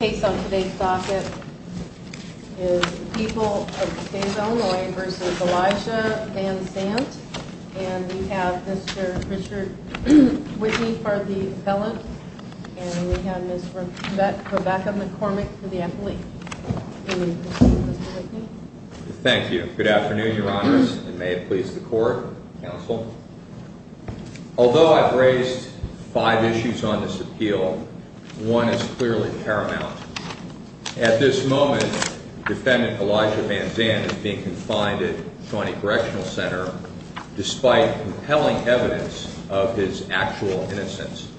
and we have Mr. Richard Whitney for the appellant, and we have Ms. Rebecca McCormick for the appellate. Thank you. Good afternoon, Your Honors, and may it please the Court, Counsel. Although I've raised five issues on this appeal, one is clearly paramount. At this moment, Defendant Elijah Van Zant is being confined at Shawnee Correctional Center despite compelling evidence of his actual innocence.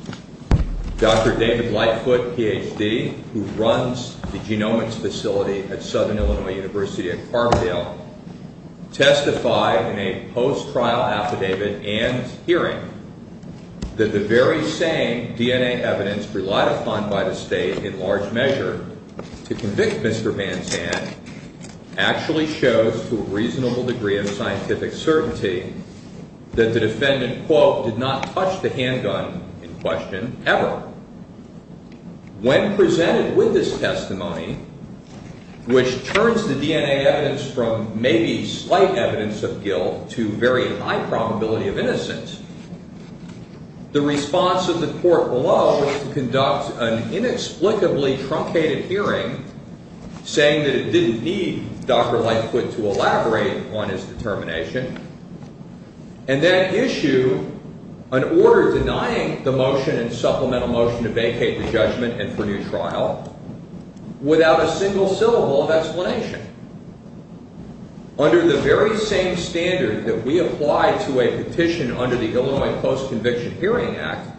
Dr. David Lightfoot, Ph.D., who runs the genomics facility at Southern Illinois University at Carbondale, testified in a post-trial affidavit and hearing that the very same DNA evidence relied upon by the State in large measure to convict Mr. Van Zant actually shows to a reasonable degree of scientific certainty that the defendant, quote, did not touch the handgun in question ever. When presented with this testimony, which turns the DNA evidence from maybe slight evidence of guilt to very high probability of innocence, the response of the Court below was to conduct an inexplicably truncated hearing saying that it didn't need Dr. Lightfoot to elaborate on his determination and then issue an order denying the motion and supplemental motion to vacate the judgment and for new trial without a single syllable of explanation. Under the very same standard that we apply to a petition under the Illinois Post-Conviction Hearing Act,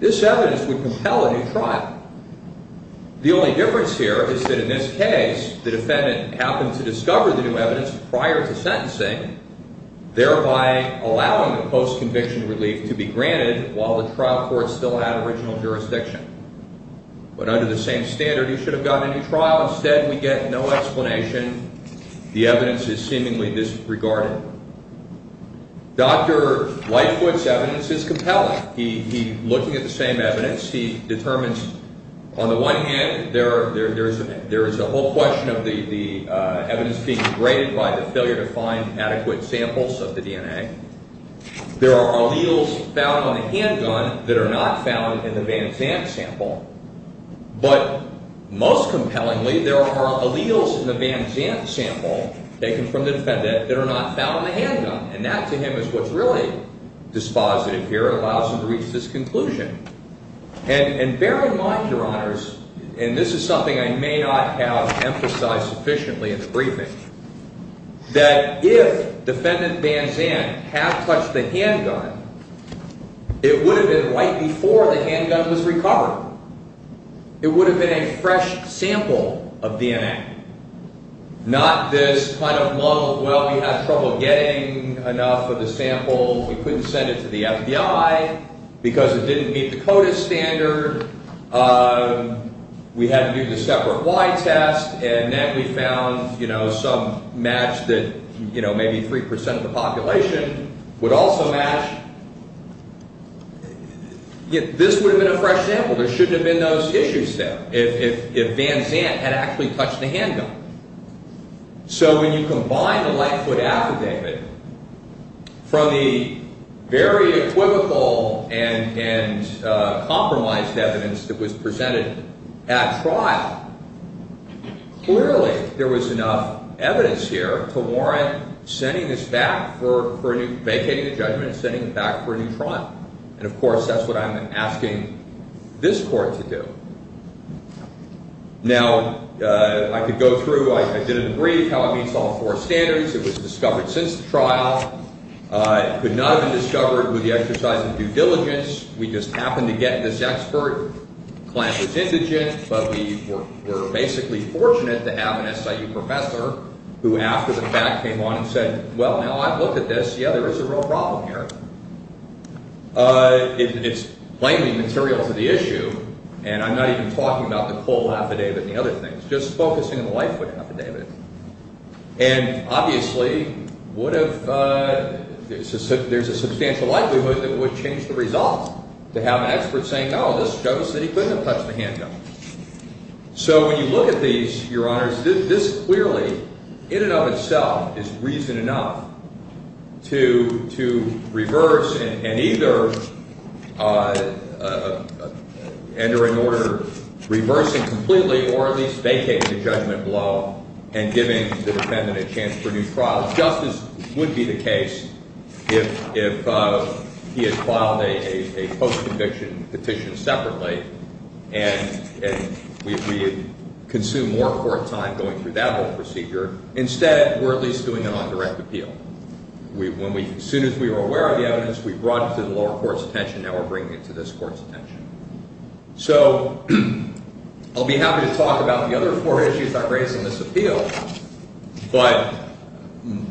this evidence would compel a new trial. The only difference here is that in this case, the defendant happened to discover the new evidence prior to sentencing, thereby allowing the post-conviction relief to be granted while the trial court still had original jurisdiction. But under the same standard, he should have gotten a new trial. Instead, we get no explanation. The evidence is seemingly disregarded. Dr. Lightfoot's evidence is compelling. He, looking at the same evidence, he determines, on the one hand, there is a whole question of the evidence being degraded by the failure to find adequate samples of the DNA. There are alleles found on the handgun that are not found in the Van Zandt sample. But most compellingly, there are alleles in the Van Zandt sample taken from the defendant that are not found on the handgun. And that, to him, is what's really dispositive here. It allows him to reach this conclusion. And bear in mind, Your Honors, and this is something I may not have emphasized sufficiently in the briefing, that if Defendant Van Zandt had touched the handgun, it would have been right before the handgun was recovered. It would have been a fresh sample of DNA, not this kind of lump of, well, we had trouble getting enough of the sample. We couldn't send it to the FBI because it didn't meet the CODIS standard. We had to do the separate Y test, and then we found some match that maybe 3% of the population would also match. This would have been a fresh sample. There shouldn't have been those issues there if Van Zandt had actually touched the handgun. So when you combine the Lightfoot affidavit from the very equivocal and compromised evidence that was presented at trial, clearly there was enough evidence here to warrant sending this back, vacating the judgment and sending it back for a new trial. And, of course, that's what I'm asking this Court to do. Now, I could go through, I didn't read how it meets all four standards. It was discovered since the trial. It could not have been discovered with the exercise of due diligence. We just happened to get this expert. The client was indigent, but we were basically fortunate to have an SIU professor who, after the fact, came on and said, well, now I've looked at this. Yeah, there is a real problem here. It's plainly material to the issue, and I'm not even talking about the Cole affidavit and the other things, just focusing on the Lightfoot affidavit. And, obviously, there's a substantial likelihood that it would change the result to have an expert saying, no, this shows that he couldn't have touched the handgun. So when you look at these, Your Honors, this clearly, in and of itself, is reason enough to reverse and either enter an order reversing completely or at least vacating the judgment below and giving the defendant a chance for a new trial. Just as would be the case if he had filed a post-conviction petition separately and we had consumed more court time going through that whole procedure. Instead, we're at least doing an on-direct appeal. As soon as we were aware of the evidence, we brought it to the lower court's attention. Now we're bringing it to this court's attention. So I'll be happy to talk about the other four issues I've raised in this appeal, but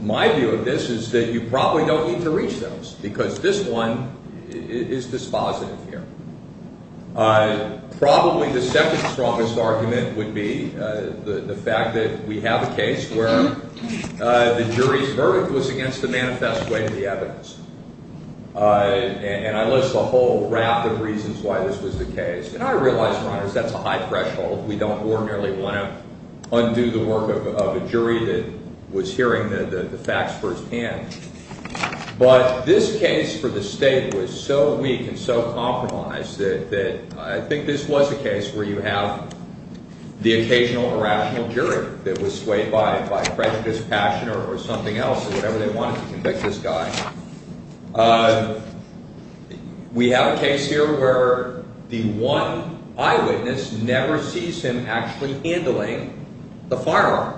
my view of this is that you probably don't need to reach those because this one is dispositive here. Probably the second strongest argument would be the fact that we have a case where the jury's verdict was against the manifest way of the evidence. And I list a whole raft of reasons why this was the case. And I realize, Your Honors, that's a high threshold. We don't ordinarily want to undo the work of a jury that was hearing the facts firsthand. But this case for the state was so weak and so compromised that I think this was a case where you have the occasional irrational jury that was swayed by prejudice, passion, or something else, or whatever they wanted to convict this guy. We have a case here where the one eyewitness never sees him actually handling the firearm.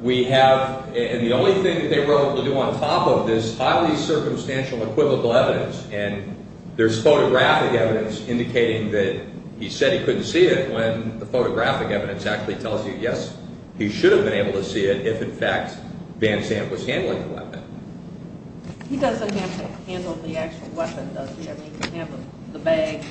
We have, and the only thing that they were able to do on top of this, highly circumstantial equivocal evidence. And there's photographic evidence indicating that he said he couldn't see it when the photographic evidence actually tells you, yes, he should have been able to see it if, in fact, Van Zandt was handling the weapon. He doesn't have to handle the actual weapon, does he? I mean, he can handle the bag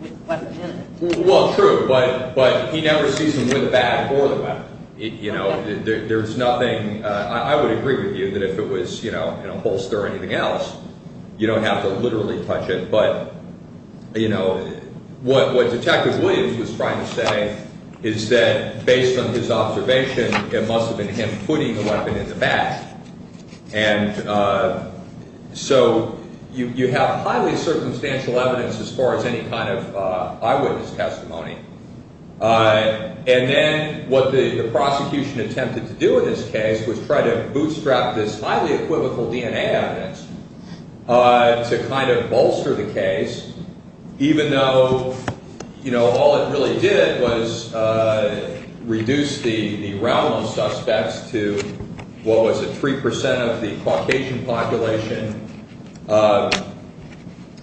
with the weapon in it. Well, true, but he never sees him with the bag or the weapon. You know, there's nothing, I would agree with you that if it was, you know, in a holster or anything else, you don't have to literally touch it. But, you know, what Detective Williams was trying to say is that based on his observation, it must have been him putting the weapon in the bag. And so you have highly circumstantial evidence as far as any kind of eyewitness testimony. And then what the prosecution attempted to do in this case was try to bootstrap this highly equivocal DNA evidence to kind of bolster the case, even though, you know, all it really did was reduce the realm of suspects to, what was it, three percent of the Caucasian population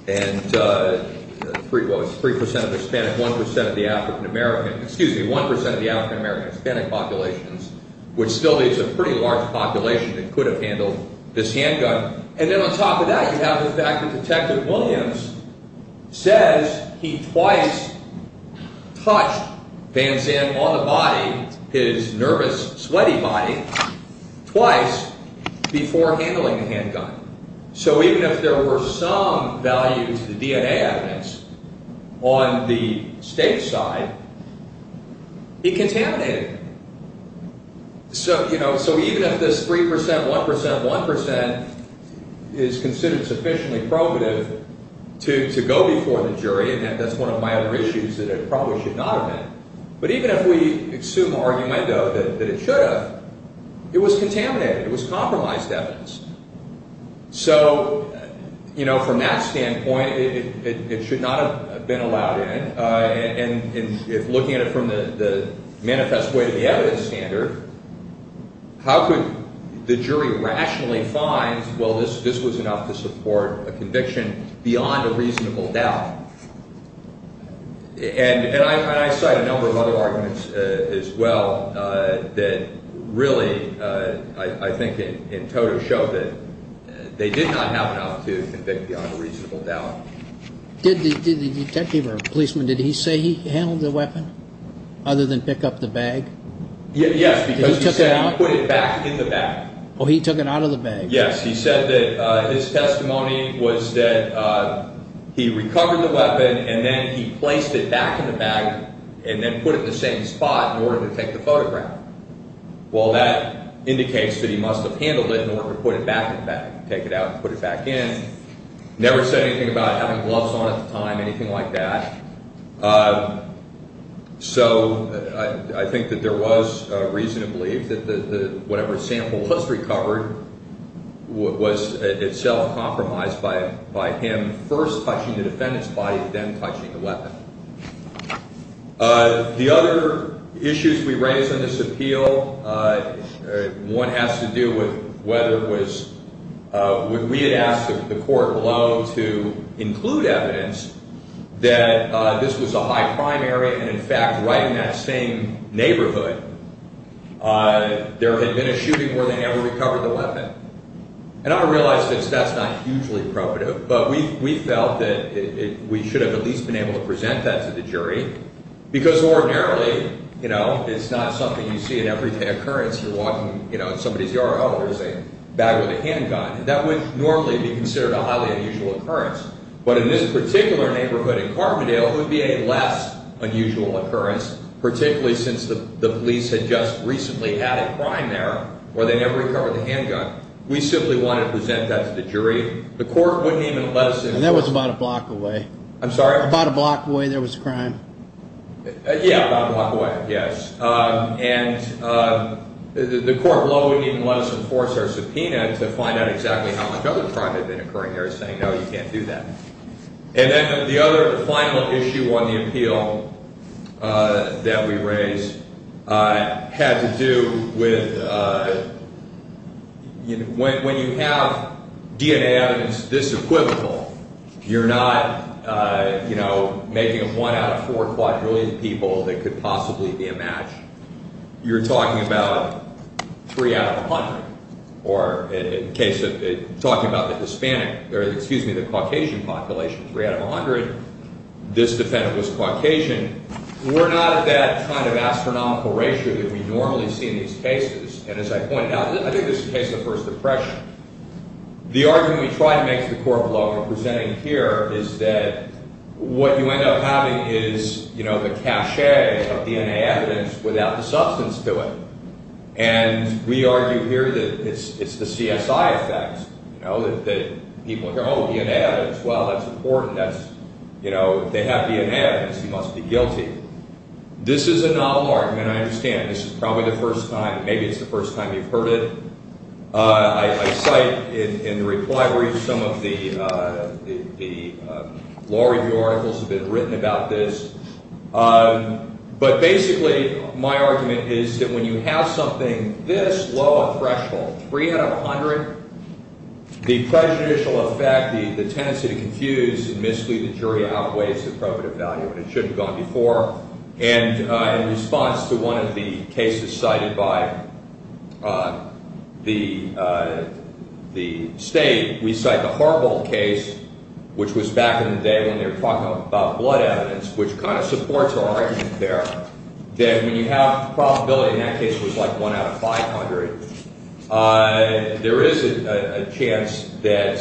and three percent of the Hispanic, one percent of the African American, excuse me, one percent of the African American Hispanic populations, which still is a pretty large population that could have handled this handgun. And then on top of that, you have the fact that Detective Williams says he twice touched Van Zandt on the body, his nervous, sweaty body, twice before handling the handgun. So even if there were some value to the DNA evidence on the state side, he contaminated it. So, you know, so even if this three percent, one percent, one percent is considered sufficiently probative to go before the jury and that's one of my other issues that it probably should not have been. But even if we assume argument, though, that it should have, it was contaminated, it was compromised evidence. So, you know, from that standpoint, it should not have been allowed in. And if looking at it from the manifest way to the evidence standard, how could the jury rationally find, well, this was enough to support a conviction beyond a reasonable doubt. And I cite a number of other arguments as well that really, I think, in total show that they did not have enough to convict beyond a reasonable doubt. Did the detective or policeman, did he say he handled the weapon other than pick up the bag? Yes, because he said he put it back in the bag. Oh, he took it out of the bag. And then he placed it back in the bag and then put it in the same spot in order to take the photograph. Well, that indicates that he must have handled it in order to put it back in the bag, take it out and put it back in. Never said anything about having gloves on at the time, anything like that. So, I think that there was reason to believe that the, whatever sample was recovered was itself compromised by him first touching the defendant's body and then touching the weapon. The other issues we raise in this appeal, one has to do with whether it was, we had asked the court below to include evidence that this was a high crime area and, in fact, right in that same neighborhood, there had been a shooting where they never recovered the weapon. And I realize that that's not hugely appropriate, but we felt that we should have at least been able to present that to the jury because ordinarily, you know, it's not something you see in every day occurrence. You're walking in somebody's yard, oh, there's a bag with a handgun. That would normally be considered a highly unusual occurrence. But in this particular neighborhood in Carpentale, it would be a less unusual occurrence, particularly since the police had just recently had a crime there where they never recovered the handgun. We simply wanted to present that to the jury. The court wouldn't even let us enforce it. And that was about a block away. I'm sorry? About a block away there was a crime. Yeah, about a block away, yes. And the court below wouldn't even let us enforce our subpoena to find out exactly how much other crime had been occurring there, saying, no, you can't do that. And then the other final issue on the appeal that we raise had to do with when you have DNA evidence this equivocal, you're not, you know, making a one out of four quadrillion people that could possibly be a match. You're talking about three out of a hundred, or in the case of talking about the Hispanic, or excuse me, the Caucasian population, three out of a hundred, this defendant was Caucasian. We're not at that kind of astronomical ratio that we normally see in these cases. And as I pointed out, I think this is the case of the First Depression. The argument we try to make to the court below when we're presenting here is that what you end up having is, you know, the cachet of DNA evidence without the substance to it. And we argue here that it's the CSI effect, you know, that people hear, oh, DNA evidence, well, that's important, that's, you know, if they have DNA evidence, that's a guarantee. This is a novel argument. I understand this is probably the first time, maybe it's the first time you've heard it. I cite in the reply brief some of the law review articles that have been written about this. But basically, my argument is that when you have something this low a threshold, three out of a hundred, the prejudicial effect, the tendency to confuse and mislead the jury outweighs the probative value, and so forth. And in response to one of the cases cited by the state, we cite the Harvold case, which was back in the day when they were talking about blood evidence, which kind of supports our argument there, that when you have probability, in that case, it was like one out of 500, there is a chance that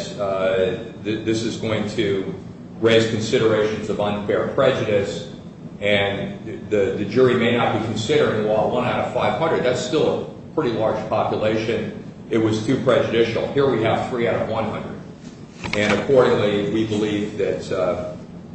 this is going to raise considerations of unfair prejudice, and the jury may not be considering, well, one out of 500, that's still a pretty large population. It was too prejudicial. Here we have three out of 100. And accordingly, we believe that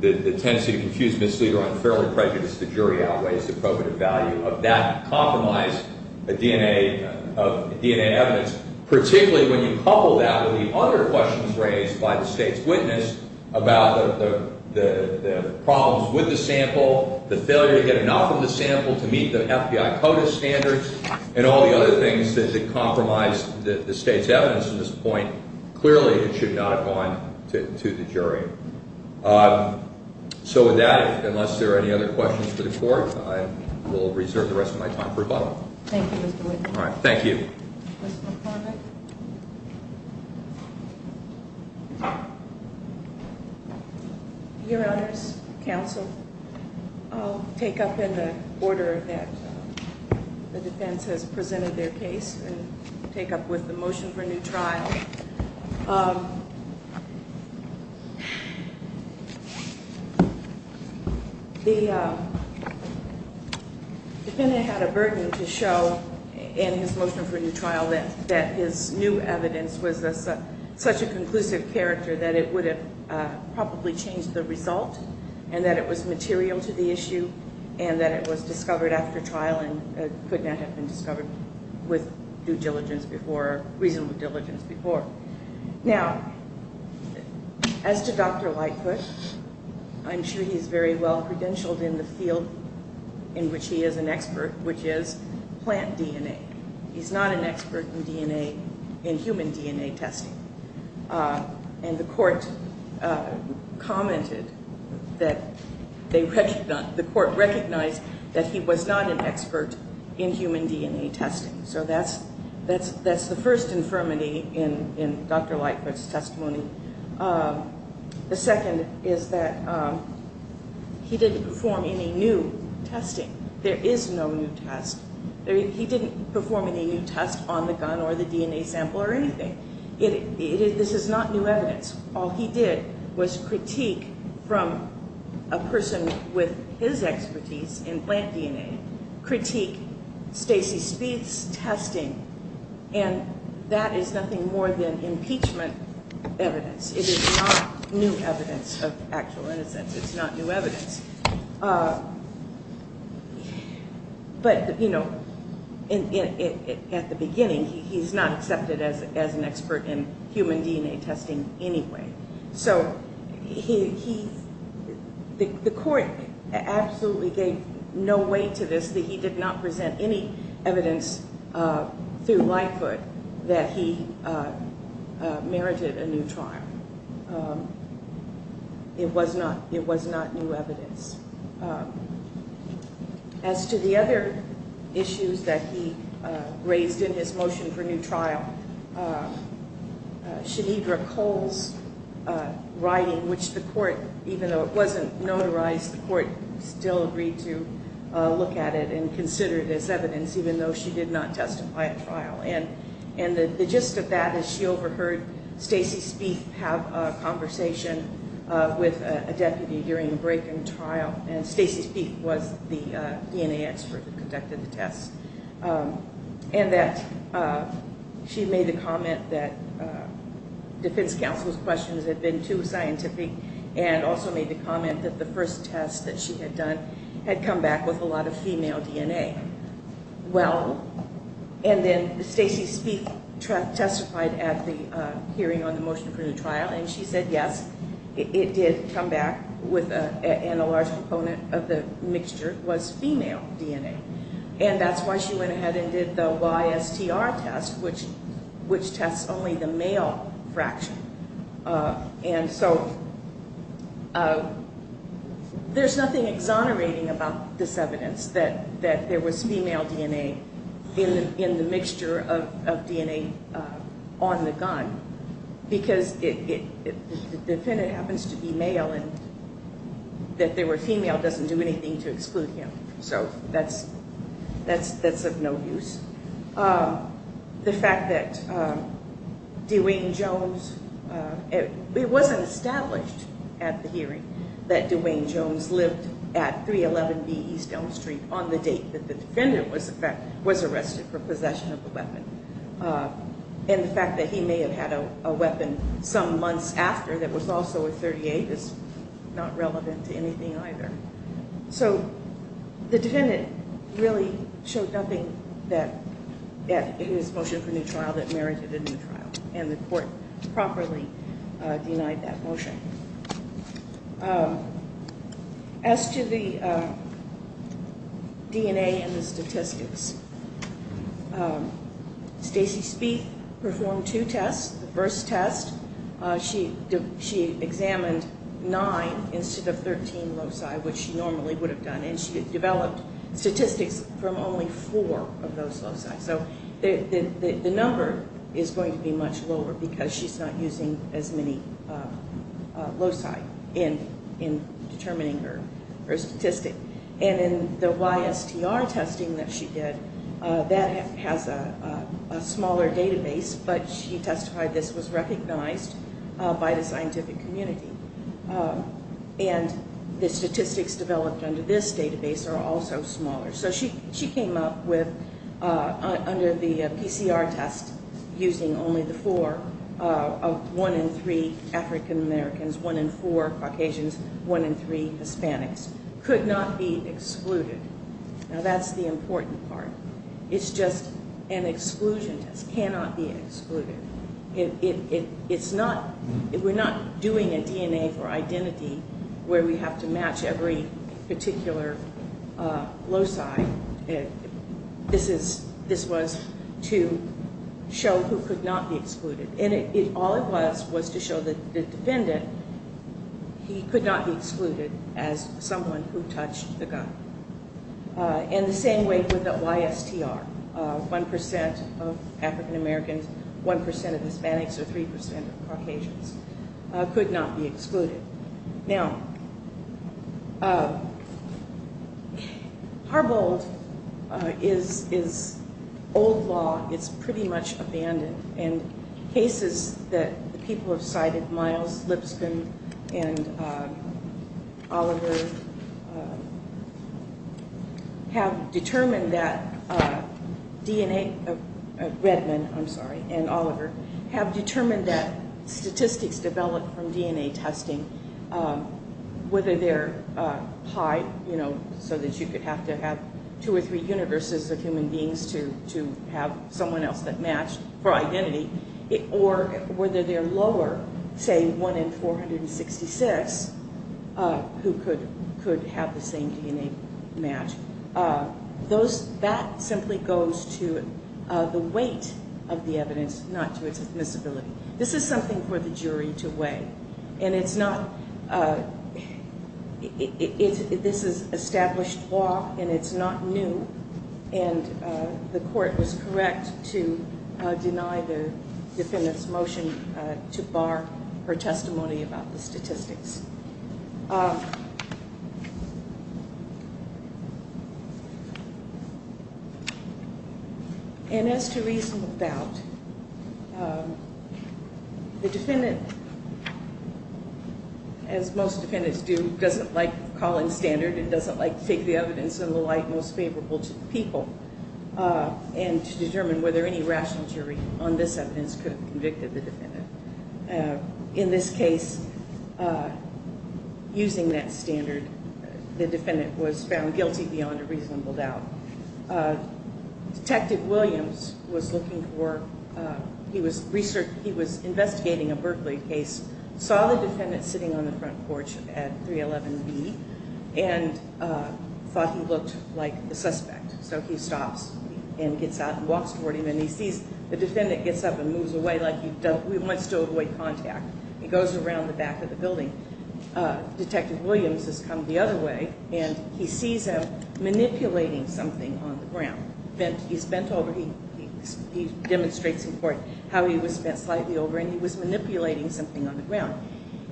the tendency to confuse, mislead, or unfairly prejudice the jury outweighs the probative value of that compromised DNA, of DNA evidence, particularly when you couple that with the other questions raised by the state's witness about the problems with the sample, the failure to get enough of the sample to meet the FBI CODIS standards, and all the other things that compromise the state's evidence at this point. Clearly, it should not have gone to the jury. So with that, unless there are any other questions for the Court, I will reserve the rest of my time for rebuttal. Thank you, Mr. Whitman. Thank you. Mr. McCormick? Your Honors, Counsel, I'll take up in the order that the defense has presented their case and take up with the motion for new trial. The defendant had a burden to show in his motion for new trial that his new evidence was such a conclusive character that it would have probably changed the result, and that it was material to the issue, and that it was discovered after trial and could not have been discovered with due diligence before, reasonable diligence before. Now, as to Dr. Lightfoot, I'm sure he's very well credentialed in the field in which he is an expert, which is plant DNA. He's not an expert in DNA, in human DNA testing. And the Court commented that the Court recognized that he was not an expert in human DNA testing. So that's the first infirmity in Dr. Lightfoot's testimony. The second is that he didn't perform any new testing. There is no new test. He didn't perform any new test on the gun or the DNA sample or anything. This is not new evidence. All he did was critique from a person with his expertise in plant DNA, critique Stacy Spieth's testing, and that is nothing more than impeachment evidence. It is not new evidence of actual innocence. It's not new evidence. But, you know, at the beginning, he's not accepted as an expert in human DNA testing anyway. So the Court absolutely gave no weight to this, that he did not present any evidence through Lightfoot that he merited a new trial. It was not new evidence. As to the other issues that he raised in his motion for new trial, Shanidra Cole's writing, which the Court, even though it wasn't notarized, the Court still agreed to look at it and consider it as evidence, even though she did not testify at trial. And the gist of that is she overheard Stacy Spieth have a conversation with a deputy during a break in trial, and Stacy Spieth was the DNA expert that conducted the test. And that she made the comment that defense counsel's questions had been too scientific, and also made the comment that the first test that she had done had come back with a lot of female DNA. Well, and then Stacy Spieth testified at the hearing on the motion for new trial, and she said, yes, it did come back and a large component of the mixture was female DNA. And that's why she went ahead and did the YSTR test, which tests only the male fraction. And so there's nothing exonerating about this evidence that there was female DNA in the mixture of DNA on the gun, because the defendant happens to be male and that they were female doesn't do anything to exclude him. So that's of no use. The fact that Dwayne Jones, it wasn't established at the hearing that Dwayne Jones lived at 311B East Elm Street on the date that the defendant was arrested for possession of the weapon. And the fact that he may have had a weapon some months after that was also a .38 is not relevant to anything either. So the defendant really showed nothing that in his motion for new trial that merited a new trial, and the court properly denied that motion. As to the DNA and the statistics, Stacy Spieth performed two tests. The first test, she examined nine instead of 13 loci, which she normally would have done, and she developed statistics from only four of those loci. So the number is going to be much lower because she's not using as many loci in determining her statistic. And in the YSTR testing that she did, that has a smaller database, but she testified this was recognized by the scientific community. And the statistics developed under this database are also smaller. So she came up with, under the PCR test, using only the four, one in three African Americans, one in four Caucasians, one in three Hispanics could not be excluded. Now that's the important part. It's just an exclusion test cannot be excluded. It's not, we're not doing a DNA for identity where we have to match every particular loci. This was to show who could not be excluded. And all it was was to show the defendant he could not be excluded as someone who touched the gun. And the same way with the YSTR. One percent of African Americans, one percent of Hispanics, or three percent of Caucasians could not be excluded. Now, Harbold is old law. It's pretty much abandoned. And cases that people have cited, Miles Lipscomb and Oliver, have determined that DNA, Redmond, I'm sorry, and Oliver, have determined that statistics developed from DNA testing, whether they're high, you know, so that you could have to have two or three universes of human beings to have someone else that matched for identity, or whether they're lower, say one in 466, who could have the same DNA match. That simply goes to the weight of the evidence, not to its admissibility. This is something for the jury to weigh. And it's not, this is established law, and it's not new. And the court was correct to deny the defendant's motion to bar her testimony about the statistics. And as to reason about, the defendant, as most defendants do, doesn't like calling standard, and doesn't like to take the evidence in the light most favorable to the people, and to determine whether any rational jury on this evidence could have convicted the defendant. In this case, using that standard, the defendant was found guilty beyond a reasonable doubt. Detective Williams was looking for, he was investigating a Berkeley case, saw the defendant sitting on the front porch at 311B, and thought he looked like the suspect. So he stops and gets out and walks toward him, and he sees the defendant gets up and moves away like he wants to avoid contact. He goes around the back of the building. Detective Williams has come the other way, and he sees him manipulating something on the ground. He's bent over, he demonstrates in court how he was bent slightly over, and he was manipulating something on the ground.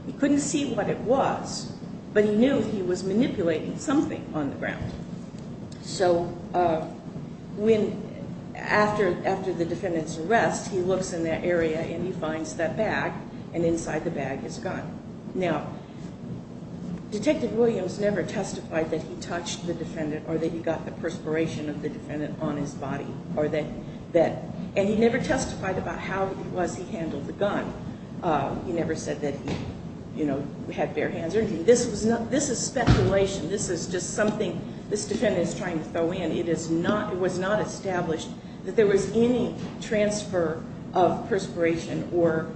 He couldn't see what it was, but he knew he was manipulating something on the ground. So when, after the defendant's arrest, he looks in that area and he finds that bag, and inside the bag is a gun. Now, Detective Williams never testified that he touched the defendant or that he got the perspiration of the defendant on his body, or that, and he never testified about how it was he handled the gun. He never said that he, you know, had bare hands or anything. This is speculation. This is just something, this defendant is trying to throw in. It was not established that there was any transfer of perspiration or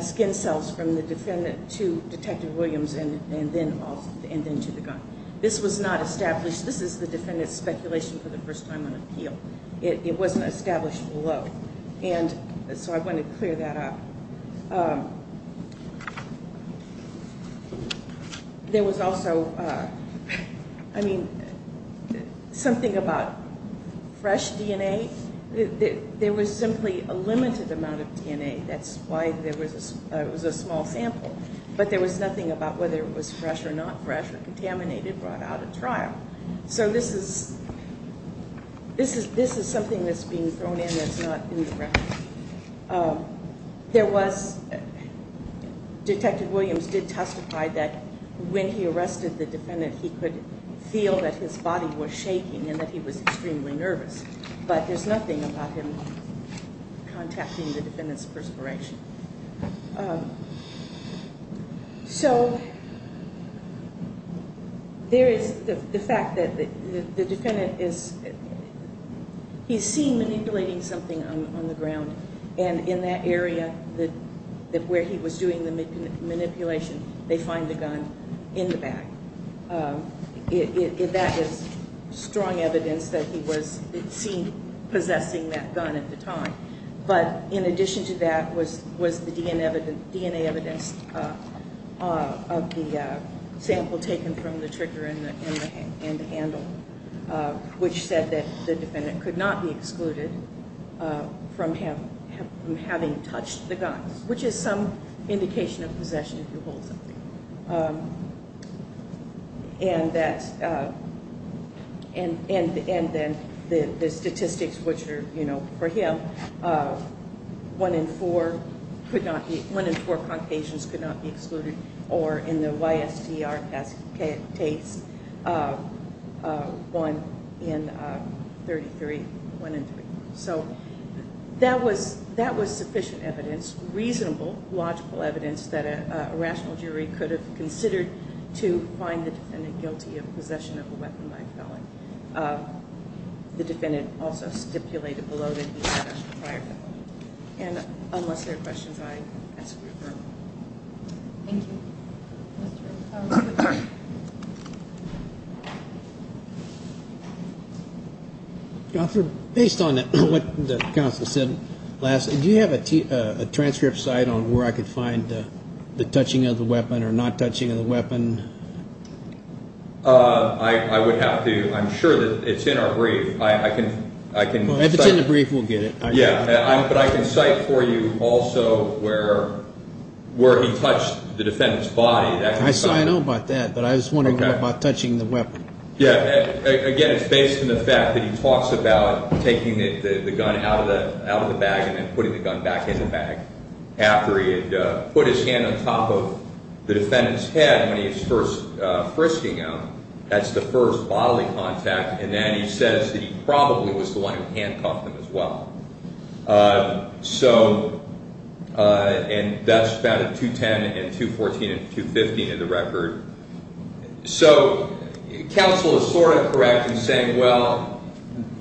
skin cells from the defendant to Detective Williams and then to the gun. This was not established. This is the defendant's speculation for the first time on appeal. It wasn't established below. And so I want to clear that up. There was also, I mean, something about fresh DNA. There was simply a limited amount of DNA. That's why there was, it was a small sample. But there was nothing about whether it was fresh or not fresh or contaminated, brought out at trial. So this is, this is something that's being thrown in that's not in the record. There was, Detective Williams did testify that when he arrested the defendant he could feel that his body was shaking and that he was extremely nervous. But there's nothing about him contacting the defendant's perspiration. So, there is the fact that the defendant is, he's seen manipulating something on the ground and in that area that where he was doing the manipulation they find the gun in the bag. That is strong evidence that he was, it seemed, possessing that gun at the time. But in addition to that was the DNA evidence of the sample taken from the trigger and the handle which said that the defendant could not be excluded from having touched the gun, which is some indication of possession if you hold something. And that, the statistics which are, you know, for him, one in four could not be, one in four Caucasians could not be excluded or in the YSTR caskates one in 33, one in three. So, that was sufficient evidence logical evidence that a rational jury could have considered to find the defendant guilty of possession of a weapon by a felon. The defendant also stipulated below that he had touched a prior felon. And unless there are questions, I ask for your approval. Thank you. Based on that, what the counsel said last, did you have a transcript cite on where I could find the touching of the weapon or not touching of the weapon? I would have to. I'm sure that it's in our brief. I can cite. If it's in the brief, we'll get it. Yeah, but I can cite for you also where he touched the defendant's body. I know about that, but I was wondering about touching the weapon. Yeah, again, it's based on the fact that he talks about taking the gun out of the bag and putting the gun back in the bag after he had put his hand on top of the defendant's head when he was first frisking him. That's the first bodily contact. And then he says that he probably was the one who handcuffed him as well. So, and that's found in 210 and 214 and 215 in the record. So, counsel is sort of correct in saying, well,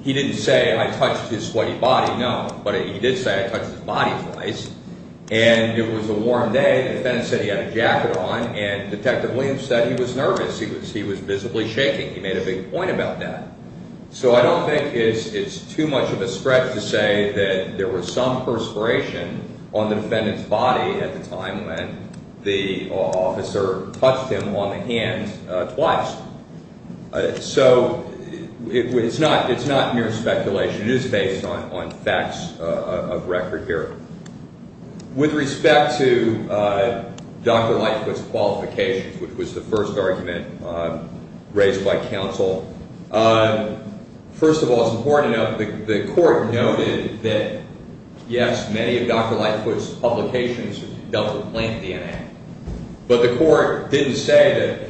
he didn't say I touched his sweaty body. No, but he did say I touched his body twice. And it was a warm day. The defendant said he had a jacket on and Detective Williams said he was nervous. He was visibly shaking. He made a big point about that. So, I don't think it's too much of a stretch to say that there was some perspiration on the defendant's body at the time when the officer touched him on the hand twice. So, it's not mere speculation. There are facts of record here. With respect to Dr. Lightfoot's qualifications, which was the first argument raised by counsel, first of all, it's important to note the court noted that, yes, many of Dr. Lightfoot's publications dealt with plant DNA. But the court didn't say that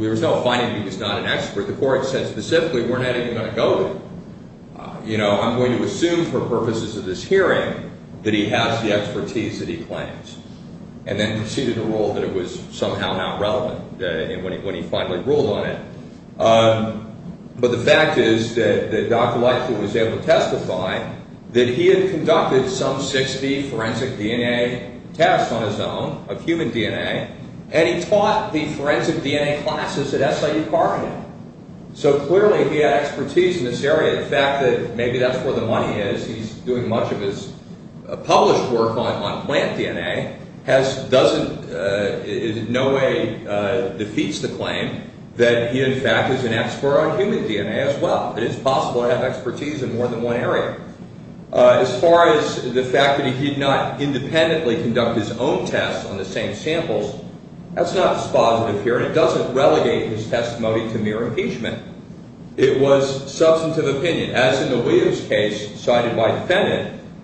there was no finding that he was not an expert. The court said specifically we're not even going to go there. It's for the purposes of this hearing that he has the expertise that he claims. And then conceded the rule that it was somehow not relevant when he finally ruled on it. But the fact is that Dr. Lightfoot was able to testify that he had conducted some 60 forensic DNA tests on his own, of human DNA, and he taught the forensic DNA classes at SIU Carpenter. So, clearly he had expertise doing much of his published work on plant DNA doesn't, in no way defeats the claim that he, in fact, is an expert on human DNA as well. It is possible to have expertise in more than one area. As far as the fact that he did not independently conduct his own tests on the same samples, that's not dispositive here, and it doesn't relegate his testimony to mere impeachment.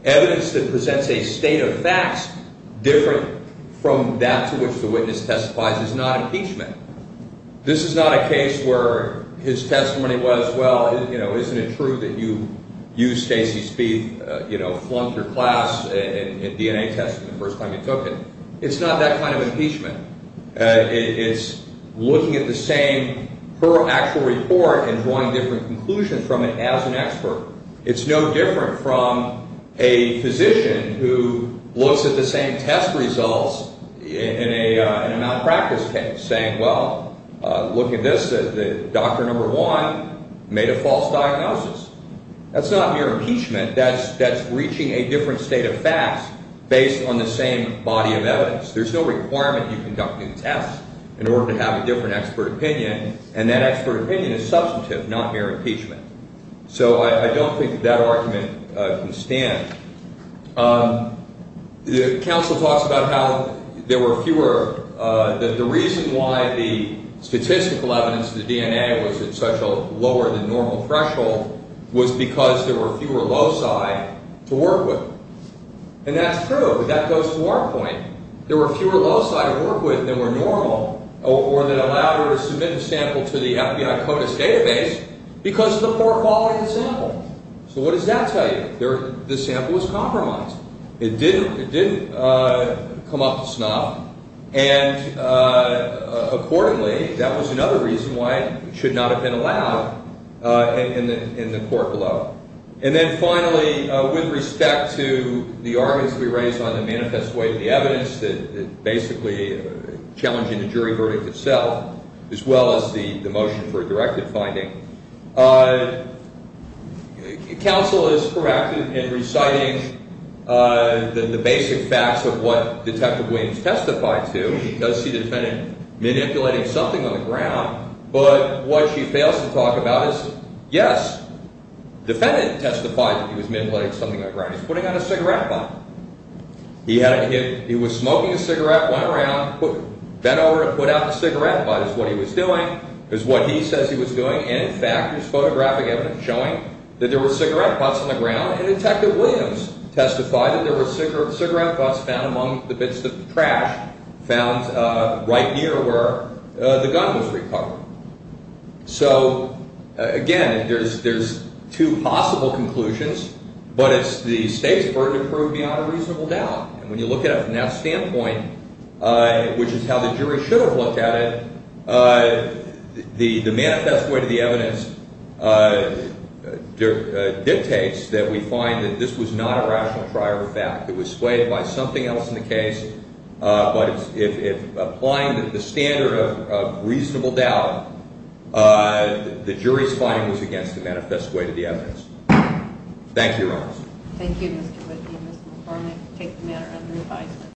Evidence that presents a state of facts different from that to which the witness testifies is not impeachment. This is not a case where his testimony was, well, isn't it true that you used Stacy Spieth, you know, flunked your class in DNA testing the first time you took it. It's not that kind of impeachment. It's looking at the same actual report and drawing different conclusions from it as an expert. It's no different from a physician who looks at the same test results in a malpractice case, saying, well, look at this, the doctor number one made a false diagnosis. That's not mere impeachment. That's breaching a different state of facts based on the same body of evidence. There's no requirement that you conduct new tests in order to have a different expert opinion, and that expert opinion is substantive, not mere impeachment. So I don't think that argument can stand. The counsel talks about how there were fewer, that the reason why the statistical evidence of the DNA was at such a lower than normal threshold was because there were fewer loci to work with. And that's true, but that goes to our point. There were fewer loci to work with than were normal, or that allowed her to submit a sample to the FBI CODIS database because of the poor quality of the sample. So what does that tell you? The sample was compromised. It did come up to snuff, and accordingly, that was another reason why it should not have been allowed in the court below. And then finally, with respect to the arguments we raised on the manifest way and the evidence that basically challenging the jury verdict itself, as well as the motion for a directive finding, counsel is proactive in reciting the basic facts of what Detective Williams testified to. She does see the defendant manipulating something on the ground, but what she fails to talk about is, yes, the defendant testified that he was manipulating something on the ground. He was putting on a cigarette butt. He was smoking a cigarette, went around, bent over and put out the cigarette butt is what he was doing, is what he says he was doing, and in fact, there's photographic evidence showing that there were cigarette butts on the ground, and Detective Williams testified that there were cigarette butts found among the bits of the trash found right near where the gun was recovered. So again, there's two possible conclusions, but it's the state's burden to prove beyond a reasonable doubt, and when you look at it from that standpoint, which is how the jury should have looked at it, the manifest way to the evidence dictates that we find that this was not a rational prior fact. It was swayed in the case, but applying the standard of reasonable doubt, the jury's finding was against the manifest way to the evidence. Thank you, Your Honor. Thank you, Mr. Whitney. Ms. McCormick, take the matter under advisement.